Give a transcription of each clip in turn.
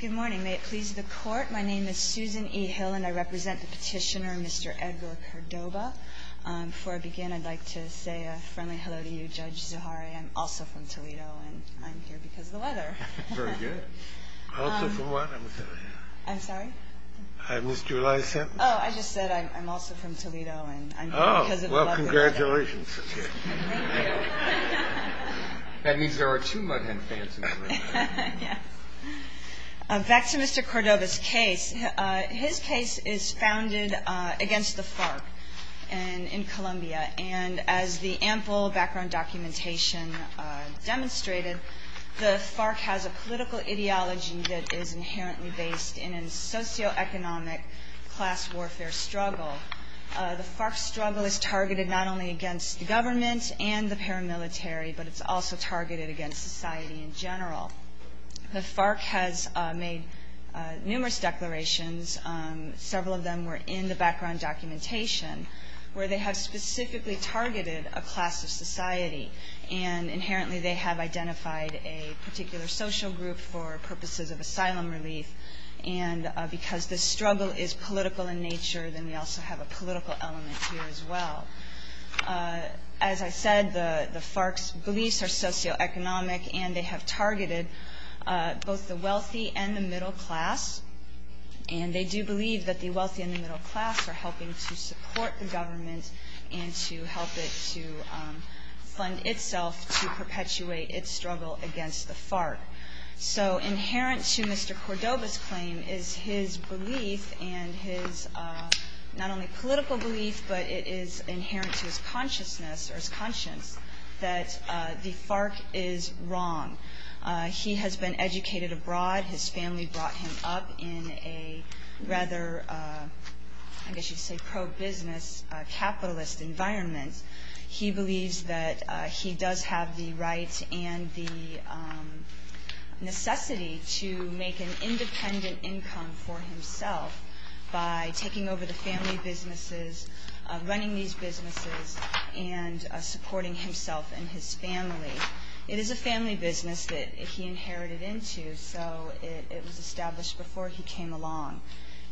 Good morning. May it please the court, my name is Susan E. Hill, and I represent the petitioner, Mr. Edward Cordoba. Before I begin, I'd like to say a friendly hello to you, Judge Zuhari. I'm also from Toledo, and I'm here because of the weather. Very good. Also, for what? I'm sorry? I missed your last sentence? Oh, I just said I'm also from Toledo, and I'm here because of the weather. Oh, well, congratulations. Thank you. That means there are two Mud Hen fans in Toledo. Back to Mr. Cordoba's case. His case is founded against the FARC in Colombia. And as the ample background documentation demonstrated, the FARC has a political ideology that is inherently based in a socioeconomic class warfare struggle. The FARC's struggle is targeted not only against the government and the paramilitary, but it's also targeted against society in general. The FARC has made numerous declarations. Several of them were in the background documentation, where they have specifically targeted a class of society. And inherently, they have identified a particular social group for purposes of asylum relief. And because the struggle is political in nature, then we also have a political element here as well. As I said, the FARC's beliefs are socioeconomic, and they have targeted both the wealthy and the middle class. And they do believe that the wealthy and the middle class are helping to support the government and to help it to fund itself to perpetuate its struggle against the FARC. So inherent to Mr. Cordoba's claim is his belief and his not only political belief, but it is inherent to his consciousness or his conscience that the FARC is wrong. He has been educated abroad. His family brought him up in a rather, I guess you'd say pro-business capitalist environment. He believes that he does have the rights and the necessity to make an independent income for himself by taking over the family businesses, running these businesses, and supporting himself and his family. It is a family business that he inherited into, so it was established before he came along.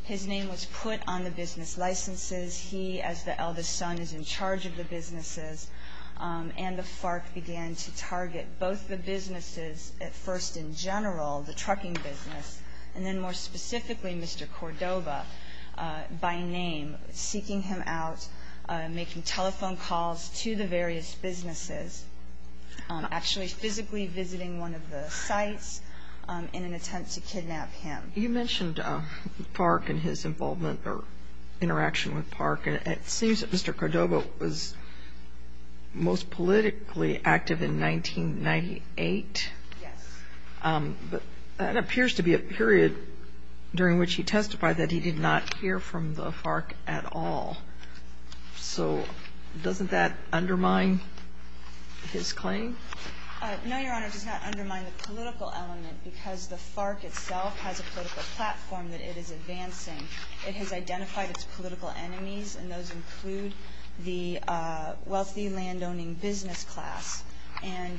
His name was put on the business licenses. He, as the eldest son, is in charge of the businesses. And the FARC began to target both the businesses at first in general, the trucking business, and then more specifically Mr. Cordoba by name, seeking him out, making telephone calls to the various businesses, actually physically visiting one of the sites in an attempt to kidnap him. You mentioned FARC and his involvement or interaction with FARC. And it seems that Mr. Cordoba was most politically active in 1998. Yes. But that appears to be a period during which he testified that he did not hear from the FARC at all. So doesn't that undermine his claim? No, Your Honor, it does not undermine the political element, because the FARC itself has a political platform that it is advancing. It has identified its political enemies, and those include the wealthy landowning business class. And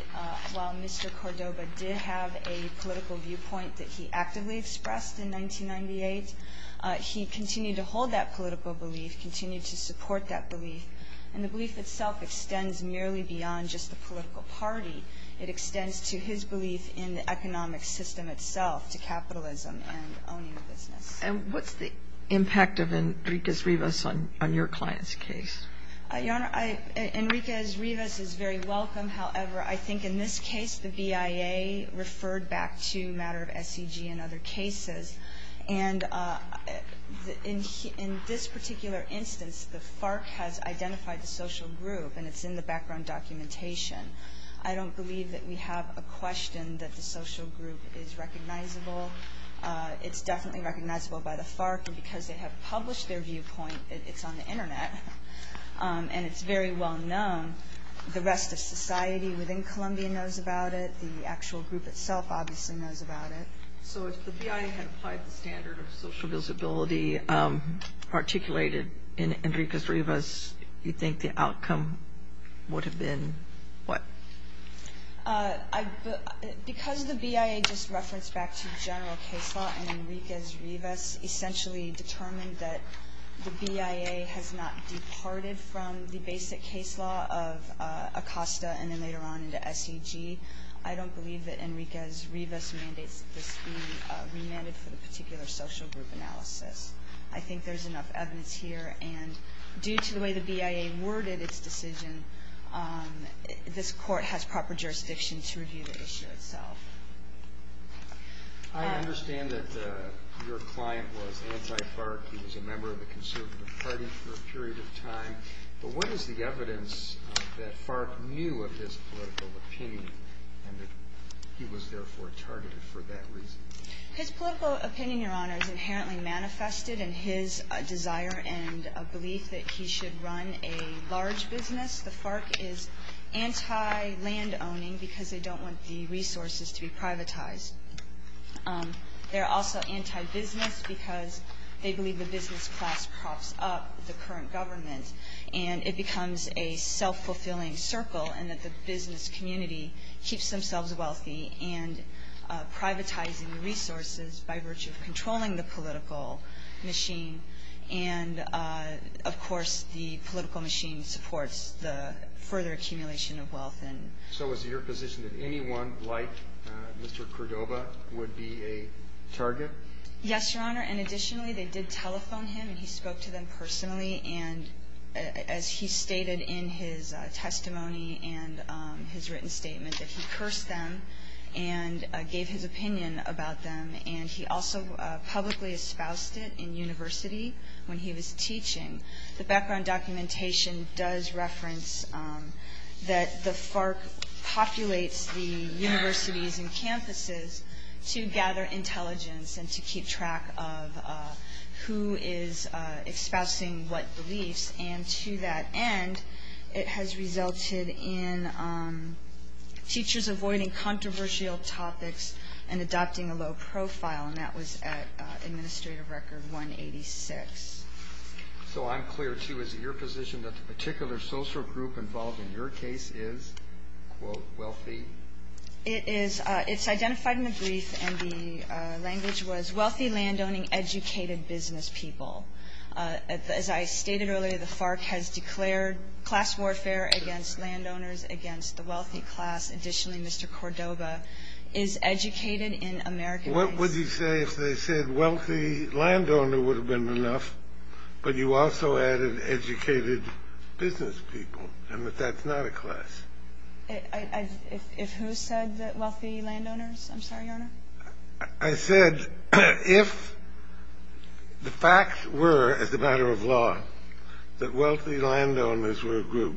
while Mr. Cordoba did have a political viewpoint that he actively expressed in 1998, he continued to hold that political belief, continued to support that belief. And the belief itself extends merely beyond just the political party. It extends to his belief in the economic system itself, to capitalism and owning a business. And what's the impact of Enriquez-Rivas on your client's case? Your Honor, Enriquez-Rivas is very welcome. However, I think in this case, the BIA referred back to a matter of SEG and other cases. And in this particular instance, the FARC has identified the social group, and it's in the background documentation. I don't believe that we have a question that the social group is recognizable. It's definitely recognizable by the FARC, because they have published their viewpoint. It's on the internet, and it's very well known. The rest of society within Colombia knows about it. The actual group itself obviously knows about it. So if the BIA had applied the standard of social visibility articulated in Enriquez-Rivas, you think the outcome would have been what? Because the BIA just referenced back to general case law, and Enriquez-Rivas essentially determined that the BIA has not departed from the basic case law of ACOSTA, and then later on into SEG. I don't believe that Enriquez-Rivas mandates this be remanded for the particular social group analysis. I think there's enough evidence here. And due to the way the BIA worded its decision, this court has proper jurisdiction to review the issue itself. I understand that your client was anti-FARC. He was a member of the Conservative Party for a period of time. But what is the evidence that FARC knew of his political opinion, and that he was therefore targeted for that reason? His political opinion, Your Honor, is inherently manifested in his desire and belief that he should run a large business. The FARC is anti-landowning because they don't want the resources to be privatized. They're also anti-business because they And it becomes a self-fulfilling circle in that the business community keeps themselves wealthy and privatizing resources by virtue of controlling the political machine. And of course, the political machine supports the further accumulation of wealth. So is it your position that anyone like Mr. Cordova would be a target? Yes, Your Honor. And additionally, they did telephone him. And he spoke to them personally. And as he stated in his testimony and his written statement, that he cursed them and gave his opinion about them. And he also publicly espoused it in university when he was teaching. The background documentation does reference that the FARC populates the universities and campuses to gather intelligence and to keep track of who is espousing what beliefs. And to that end, it has resulted in teachers avoiding controversial topics and adopting a low profile. And that was at administrative record 186. So I'm clear, too, is it your position that the particular social group involved in your case is, quote, wealthy? It is. It's identified in the brief. And the language was wealthy landowning educated business people. As I stated earlier, the FARC has declared class warfare against landowners, against the wealthy class. Additionally, Mr. Cordova is educated in American case. What would you say if they said wealthy landowner would have been enough, but you also added educated business people? And that that's not a class. If who said wealthy landowners? I'm sorry, Your Honor. I said, if the facts were, as a matter of law, that wealthy landowners were a group,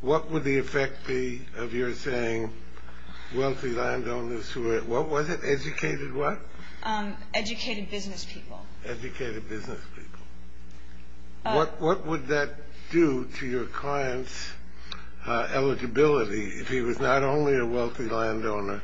what would the effect be of your saying wealthy landowners who were, what was it, educated what? Educated business people. Educated business people. What would that do to your client's eligibility if he was not only a wealthy landowner,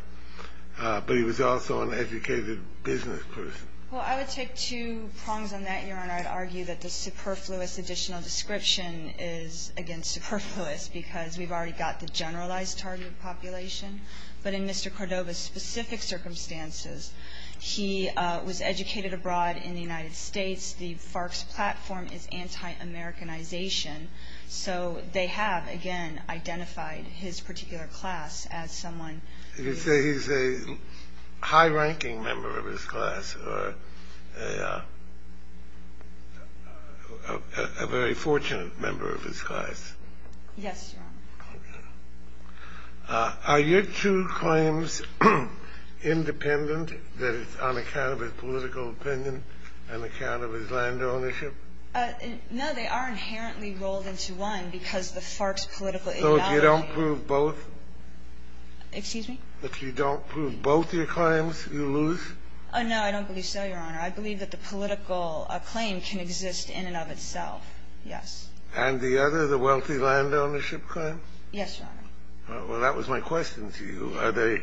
but he was also an educated business person? Well, I would take two prongs on that, Your Honor. I'd argue that the superfluous additional description is, again, superfluous, because we've already got the generalized target population. But in Mr. Cordova's specific circumstances, he was educated abroad in the United States. The FARC's platform is anti-Americanization. So they have, again, identified his particular class as someone who's a high-ranking member of his class, or a very fortunate member of his class. Yes, Your Honor. Are your two claims independent, that it's on account of his political opinion and account of his land ownership? No, they are inherently rolled into one, because the FARC's political invalidation. So if you don't prove both? Excuse me? If you don't prove both your claims, you lose? No, I don't believe so, Your Honor. I believe that the political claim can exist in and of itself, yes. And the other, the wealthy land ownership claim? Yes, Your Honor. Well, that was my question to you. Are they?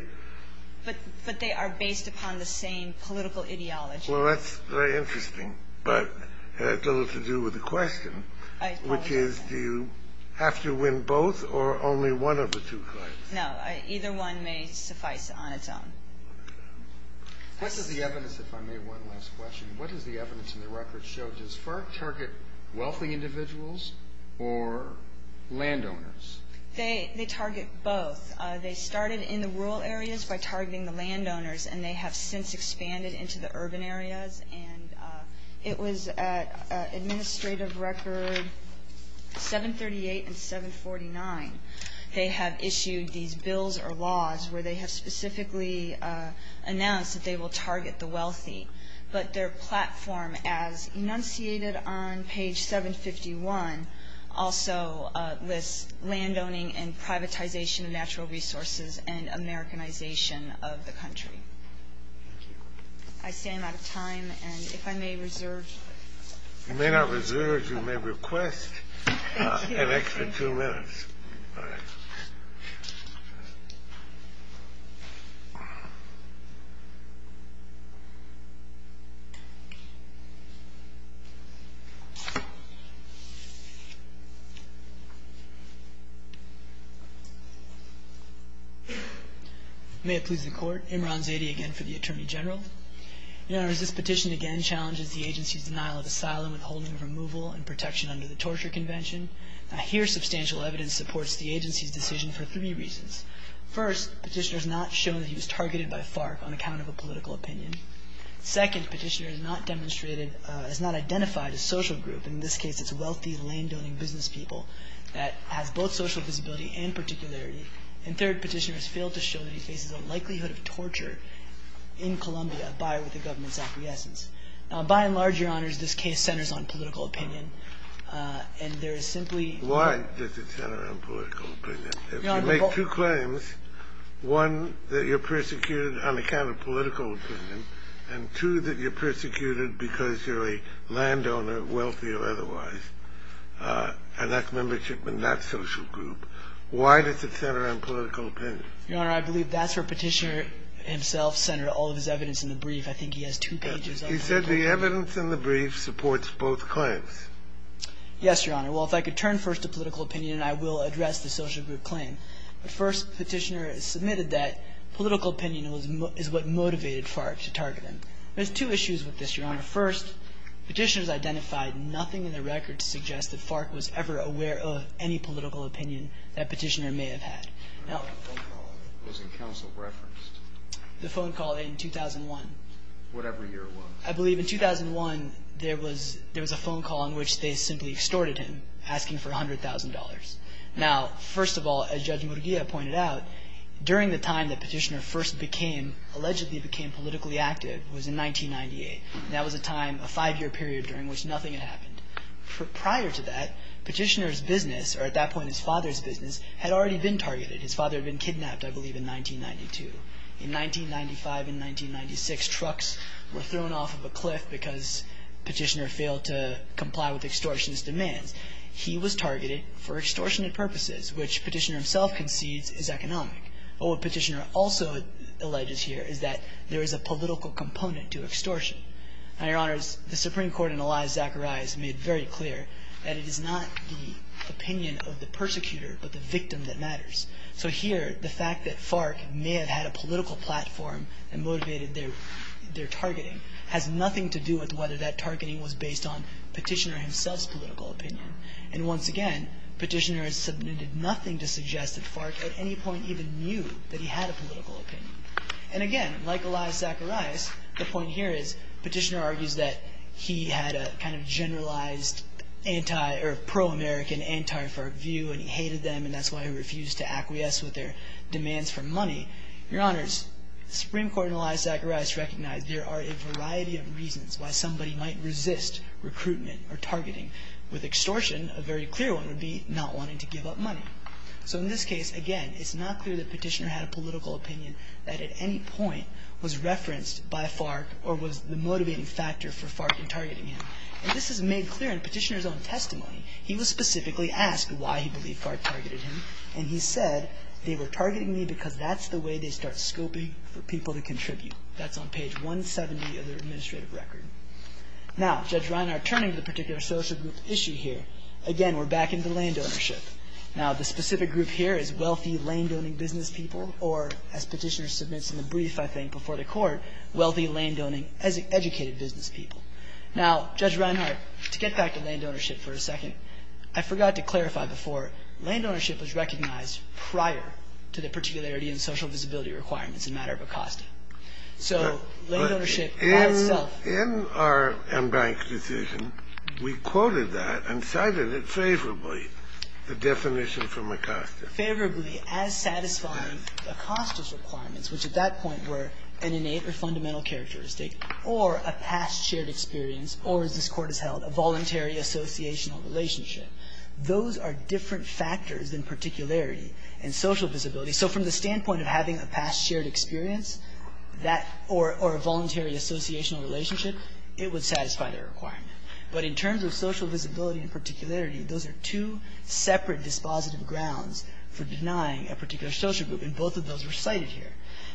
But they are based upon the same political ideology. Well, that's very interesting. But it has a little to do with the question, which is, do you have to win both, or only one of the two claims? No, either one may suffice on its own. What does the evidence, if I may, one last question. What does the evidence in the record show? Does FARC target wealthy individuals or landowners? They target both. They started in the rural areas by targeting the landowners. And they have since expanded into the urban areas. And it was at Administrative Record 738 and 749, they have issued these bills or laws where they have specifically announced that they will target the wealthy. But their platform, as enunciated on page 751, also lists landowning and privatization of natural resources and Americanization of the country. I stand out of time, and if I may reserve. You may not reserve. You may request an extra two minutes. All right. May it please the Court. Imran Zadi, again, for the Attorney General. Your Honor, this petition again challenges the agency's denial of asylum, withholding of removal, and protection under the Torture Convention. Here, substantial evidence supports the agency's decision for three reasons. First, petitioner has not shown that he was targeted by FARC on account of a political opinion. Second, petitioner has not demonstrated, has not identified a social group. In this case, it's wealthy landowning business people that has both social visibility and particularity. And third, petitioner has failed to show that he faces a likelihood of torture in Colombia by or with the government's acquiescence. By and large, Your Honors, this case centers on political opinion. And there is simply no Why does it center on political opinion? If you make two claims, one, that you're persecuted on account of political opinion, and two, that you're persecuted because you're a landowner, wealthy or otherwise, and that's membership in that social group, why does it center on political opinion? Your Honor, I believe that's where petitioner himself centered all of his evidence in the brief. I think he has two pages on that. He said the evidence in the brief supports both claims. Yes, Your Honor. Well, if I could turn first to political opinion, I will address the social group claim. But first, petitioner submitted that political opinion is what motivated FARC to target him. There's two issues with this, Your Honor. First, petitioners identified nothing in the record to suggest that FARC was ever aware of any political opinion that petitioner may have had. The phone call was in counsel referenced. The phone call in 2001. Whatever year it was. I believe in 2001 there was a phone call in which they simply extorted him, asking for $100,000. Now, first of all, as Judge Murguia pointed out, during the time that petitioner first became, allegedly became politically active was in 1998. That was a time, a five year period during which nothing had happened. Prior to that, petitioner's business, or at that point his father's business, had already been targeted. His father had been kidnapped, I believe, in 1992. In 1995 and 1996, trucks were thrown off of a cliff because petitioner failed to comply with extortionist demands. He was targeted for extortionate purposes, which petitioner himself concedes is economic. But what petitioner also alleges here is that there is a political component to extortion. Now, Your Honors, the Supreme Court and Elias Zacharias made very clear that it is not the opinion of the persecutor, but the victim that matters. So here, the fact that FARC may have had a political platform and motivated their targeting has nothing to do with whether that targeting was based on petitioner himself's political opinion. And once again, petitioner has submitted nothing to suggest that FARC at any point even knew that he had a political opinion. And again, like Elias Zacharias, the point here is petitioner argues that he had a kind of generalized anti, or pro-American, anti-FARC view, and he hated them, and that's why he refused to acquiesce with their demands for money. Your Honors, Supreme Court and Elias Zacharias recognize there are a variety of reasons why somebody might resist recruitment or targeting. With extortion, a very clear one would be not wanting to give up money. So in this case, again, it's not clear that petitioner had a political opinion that at any point was referenced by FARC or was the motivating factor for FARC in targeting him. And this is made clear in petitioner's own testimony. He was specifically asked why he believed FARC targeted him, and he said, they were targeting me because that's the way they start scoping for people to contribute. That's on page 170 of their administrative record. Now, Judge Reinhart, turning to the particular social group issue here, again, we're back into land ownership. Now, the specific group here is wealthy, land-owning business people, or as petitioner submits in the brief, I think, before the court, wealthy, land-owning, educated business people. Now, Judge Reinhart, to get back to land ownership for a second, I forgot to clarify before, land ownership was recognized prior to the particularity and social visibility requirements in the matter of Acosta. So land ownership by itself was recognized prior to the particularity and social visibility requirements in the matter of Acosta. We quoted that and cited it favorably, the definition from Acosta. Favorably as satisfying Acosta's requirements, which at that point were an innate or fundamental characteristic or a past shared experience or, as this Court has held, a voluntary associational relationship. Those are different factors than particularity and social visibility. So from the standpoint of having a past shared experience or a voluntary associational relationship, it would satisfy that requirement. But in terms of social visibility and particularity, those are two separate dispositive grounds for denying a particular social group, and both of those were cited here.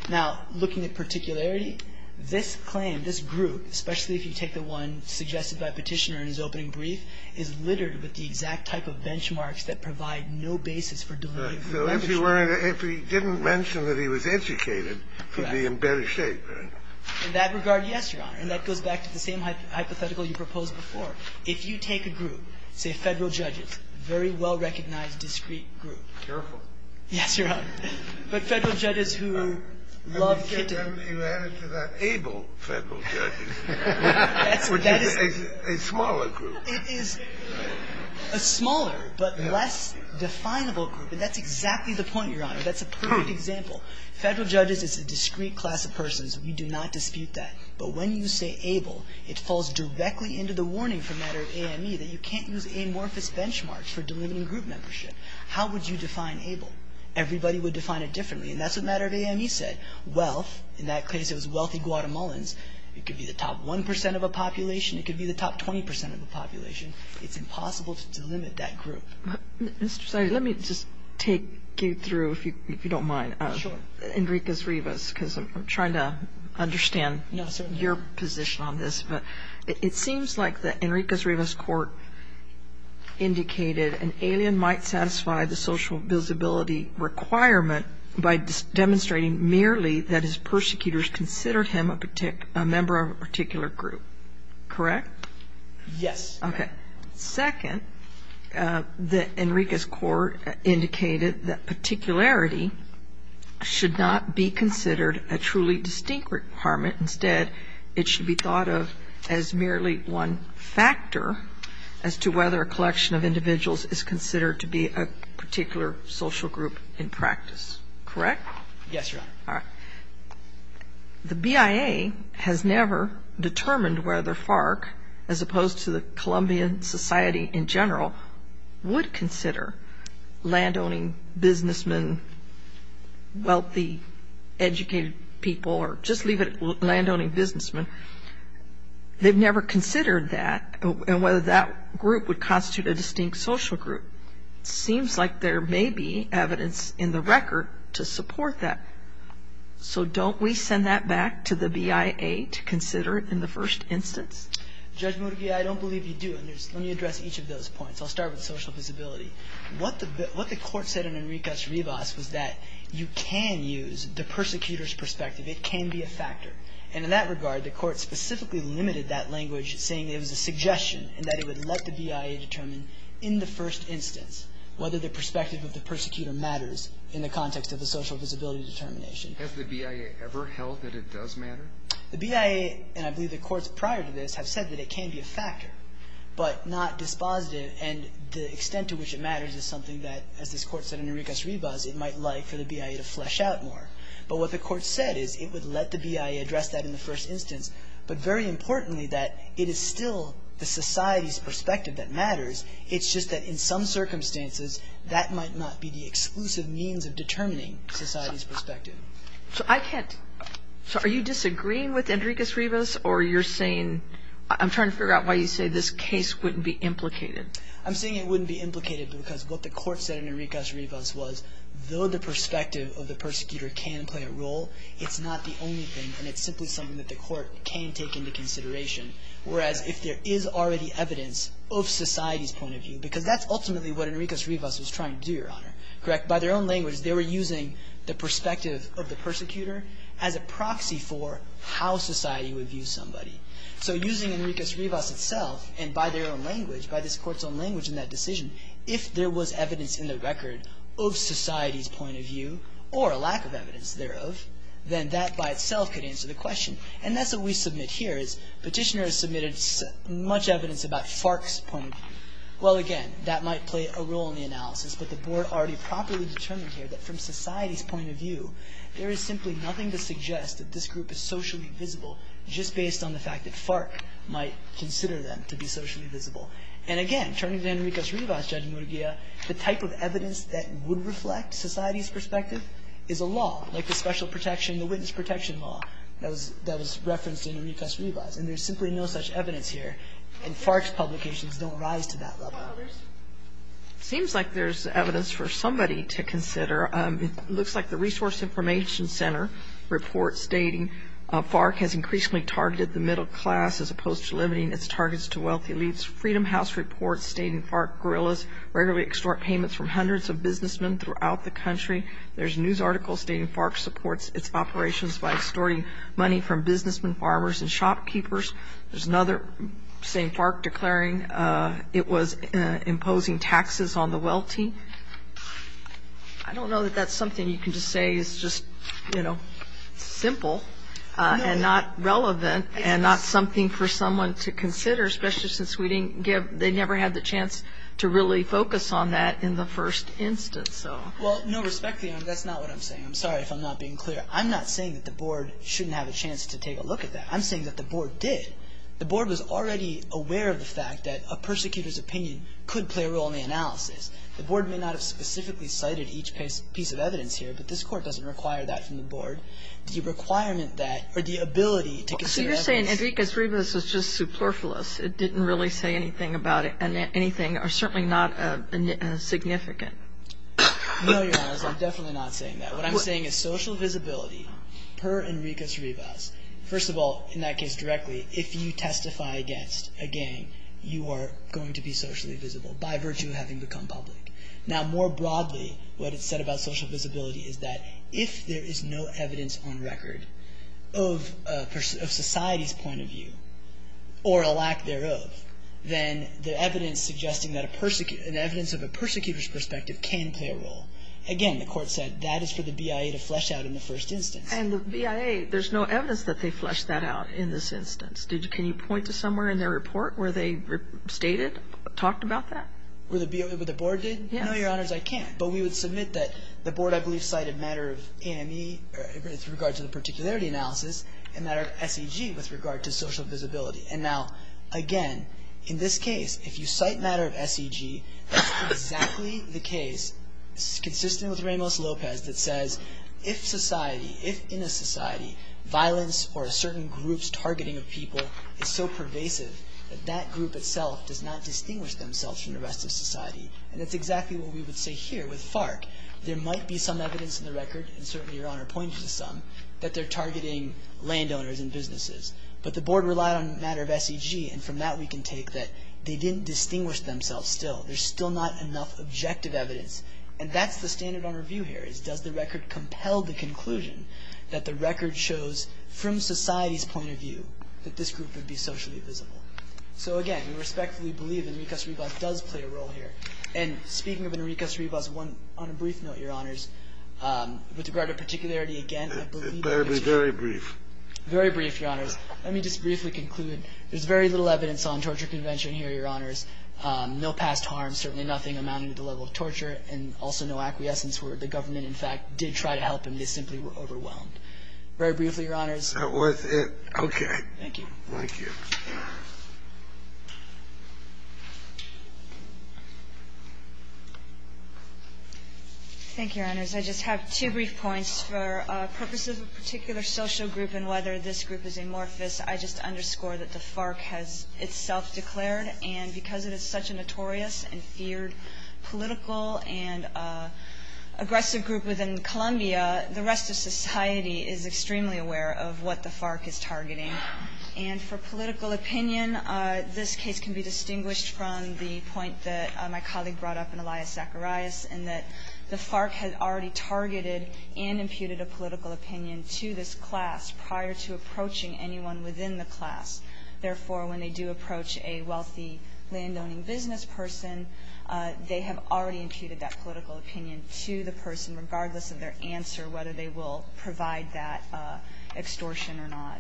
Now, looking at particularity, this claim, this group, especially if you take the one suggested by petitioner in his opening brief, is littered with the exact type of benchmarks that provide no basis for delivering a particular group. And so we can't say that he was educated to be in better shape. In that regard, yes, Your Honor. And that goes back to the same hypothetical you proposed before. If you take a group, say Federal judges, very well recognized, discreet group. Careful. Yes, Your Honor. But Federal judges who love Kitten. You add it to that able Federal judges. That's what that is. A smaller group. It is a smaller but less definable group. And that's exactly the point, Your Honor. That's a perfect example. Federal judges is a discreet class of persons. We do not dispute that. But when you say able, it falls directly into the warning from matter of AME that you can't use amorphous benchmarks for delimiting group membership. How would you define able? Everybody would define it differently. And that's what matter of AME said. Wealth, in that case, it was wealthy Guatemalans. It could be the top 1% of a population. It could be the top 20% of a population. It's impossible to delimit that group. Mr. Saiz, let me just take you through, if you don't mind, Enriquez-Rivas, because I'm trying to understand your position on this. But it seems like the Enriquez-Rivas court indicated an alien might satisfy the social visibility requirement by demonstrating merely that his persecutors considered him a member of a particular group. Correct? Yes. OK. Second, the Enriquez court indicated that particularity should not be considered a truly distinct requirement. Instead, it should be thought of as merely one factor as to whether a collection of individuals is considered to be a particular social group in practice. Correct? Yes, Your Honor. The BIA has never determined whether FARC, as opposed to the Colombian Society in general, would consider landowning businessmen, wealthy, educated people, or just leave it at landowning businessmen. They've never considered that and whether that group would constitute a distinct social group. Seems like there may be evidence in the record to support that. So don't we send that back to the BIA to consider it in the first instance? Judge Murguía, I don't believe you do. Let me address each of those points. I'll start with social visibility. What the court said in Enriquez-Rivas was that you can use the persecutor's perspective. It can be a factor. And in that regard, the court specifically limited that language, saying it was a suggestion and that it would let the BIA determine in the first instance whether the perspective of the persecutor matters in the context of the social visibility determination. Has the BIA ever held that it does matter? The BIA, and I believe the courts prior to this, have said that it can be a factor, but not dispositive. And the extent to which it matters is something that, as this court said in Enriquez-Rivas, it might like for the BIA to flesh out more. But what the court said is it would let the BIA address that in the first instance, but very importantly, that it is still the society's perspective that matters. It's just that in some circumstances, that might not be the exclusive means of determining society's perspective. So I can't. So are you disagreeing with Enriquez-Rivas, or you're saying, I'm trying to figure out why you say this case wouldn't be implicated? I'm saying it wouldn't be implicated, because what the court said in Enriquez-Rivas was, though the perspective of the persecutor can play a role, it's not the only thing, and it's simply something that the court can take into consideration. Whereas if there is already evidence of society's point of view, because that's ultimately what Enriquez-Rivas was trying to do, Your Honor, correct? By their own language, they were using the perspective of the persecutor as a proxy for how society would view somebody. So using Enriquez-Rivas itself, and by their own language, by this court's own language in that decision, if there was evidence in the record of society's point of view, or a lack of evidence thereof, then that by itself could answer the question. And that's what we submit here, is petitioner has submitted much evidence about FARC's point of view. Well, again, that might play a role in the analysis, but the board already properly determined here that from society's point of view, there is simply nothing to suggest that this group is socially visible, just based on the fact that FARC might consider them to be socially visible. And again, turning to Enriquez-Rivas, Judge Murguia, the type of evidence that would reflect society's perspective is a law, like the special protection, the witness protection law that was referenced in Enriquez-Rivas. And there's simply no such evidence here, and FARC's publications don't rise to that level. It seems like there's evidence for somebody to consider. It looks like the Resource Information Center report stating, FARC has increasingly targeted the middle class, as opposed to limiting its targets to wealthy elites. Freedom House reports stating FARC guerrillas regularly extort payments from hundreds of businessmen throughout the country. There's a news article stating FARC supports its operations by extorting money from businessmen, farmers, and shopkeepers. There's another saying FARC declaring it was imposing taxes on the wealthy. I don't know that that's something you can just say is just, you know, simple, and not relevant, and not something for someone to consider, especially since we didn't give, they never had the chance to really focus on that in the first instance, so. Well, no, respectfully, that's not what I'm saying. I'm sorry if I'm not being clear. I'm not saying that the board shouldn't have a chance to take a look at that. I'm saying that the board did. The board was already aware of the fact that a persecutor's opinion could play a role in the analysis. The board may not have specifically cited each piece of evidence here, but this court doesn't require that from the board. The requirement that, or the ability to consider evidence. So you're saying Enriquez-Rivas was just superfluous. It didn't really say anything about it, and anything, or certainly not significant. No, Your Honor, I'm definitely not saying that. What I'm saying is social visibility per Enriquez-Rivas, first of all, in that case directly, if you testify against a gang, you are going to be socially visible by virtue of having become public. Now, more broadly, what it said about social visibility is that if there is no evidence on record of society's point of view, or a lack thereof, then the evidence suggesting that an evidence of a persecutor's perspective can play a role. Again, the court said that is for the BIA to flesh out in the first instance. And the BIA, there's no evidence that they flesh that out in this instance. Can you point to somewhere in their report where they stated, talked about that? Where the BIA, where the board did? Yes. No, Your Honors, I can't. But we would submit that the board, I believe, cited matter of AME with regards to the particularity analysis, and matter of SEG with regard to social visibility. And now, again, in this case, if you cite matter of SEG, that's exactly the case, consistent with Ramos-Lopez, that says if society, if in a society, violence or a certain group's targeting of people is so pervasive that that group itself does not distinguish themselves from the rest of society. And that's exactly what we would say here with FARC. There might be some evidence in the record, and certainly Your Honor pointed to some, that they're targeting landowners and businesses. But the board relied on matter of SEG, and from that we can take that they didn't distinguish themselves still. There's still not enough objective evidence. And that's the standard on review here, is does the record compel the conclusion that the record shows, from society's point of view, that this group would be socially visible? So again, we respectfully believe Enrique Cervibas does play a role here. And speaking of Enrique Cervibas, on a brief note, Your Honors, with regard to particularity, again, I believe that it's- Very, very brief. Very brief, Your Honors. Let me just briefly conclude. There's very little evidence on torture convention here, Your Honors. No past harm, certainly nothing amounting to the level of torture, and also no acquiescence where the government, in fact, did try to help him. They simply were overwhelmed. Very briefly, Your Honors. That was it. Okay. Thank you. Thank you. Thank you, Your Honors. I just have two brief points. For purposes of a particular social group and whether this group is amorphous, I just underscore that the FARC has itself declared, and because it is such a notorious and feared political and aggressive group within Columbia, the rest of society is extremely aware of what the FARC is targeting. And for political opinion, this case can be distinguished from the point that my colleague brought up in Elias Zacharias, in that the FARC had already targeted and imputed a political opinion to this class prior to approaching anyone within the class. Therefore, when they do approach a wealthy land-owning business person, they have already imputed that political opinion to the person, regardless of their answer, whether they will provide that extortion or not.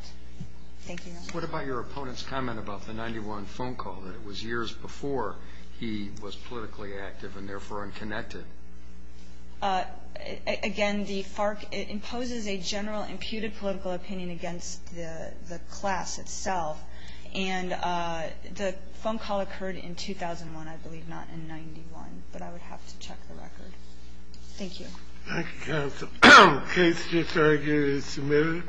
Thank you, Your Honors. What about your opponent's comment about the 91 phone call, that it was years before he was politically active and therefore unconnected? Again, the FARC imposes a general, imputed political opinion against the class itself. And the phone call occurred in 2001, I believe, not in 91, but I would have to check the record. Thank you. Thank you, counsel. The case is now submitted.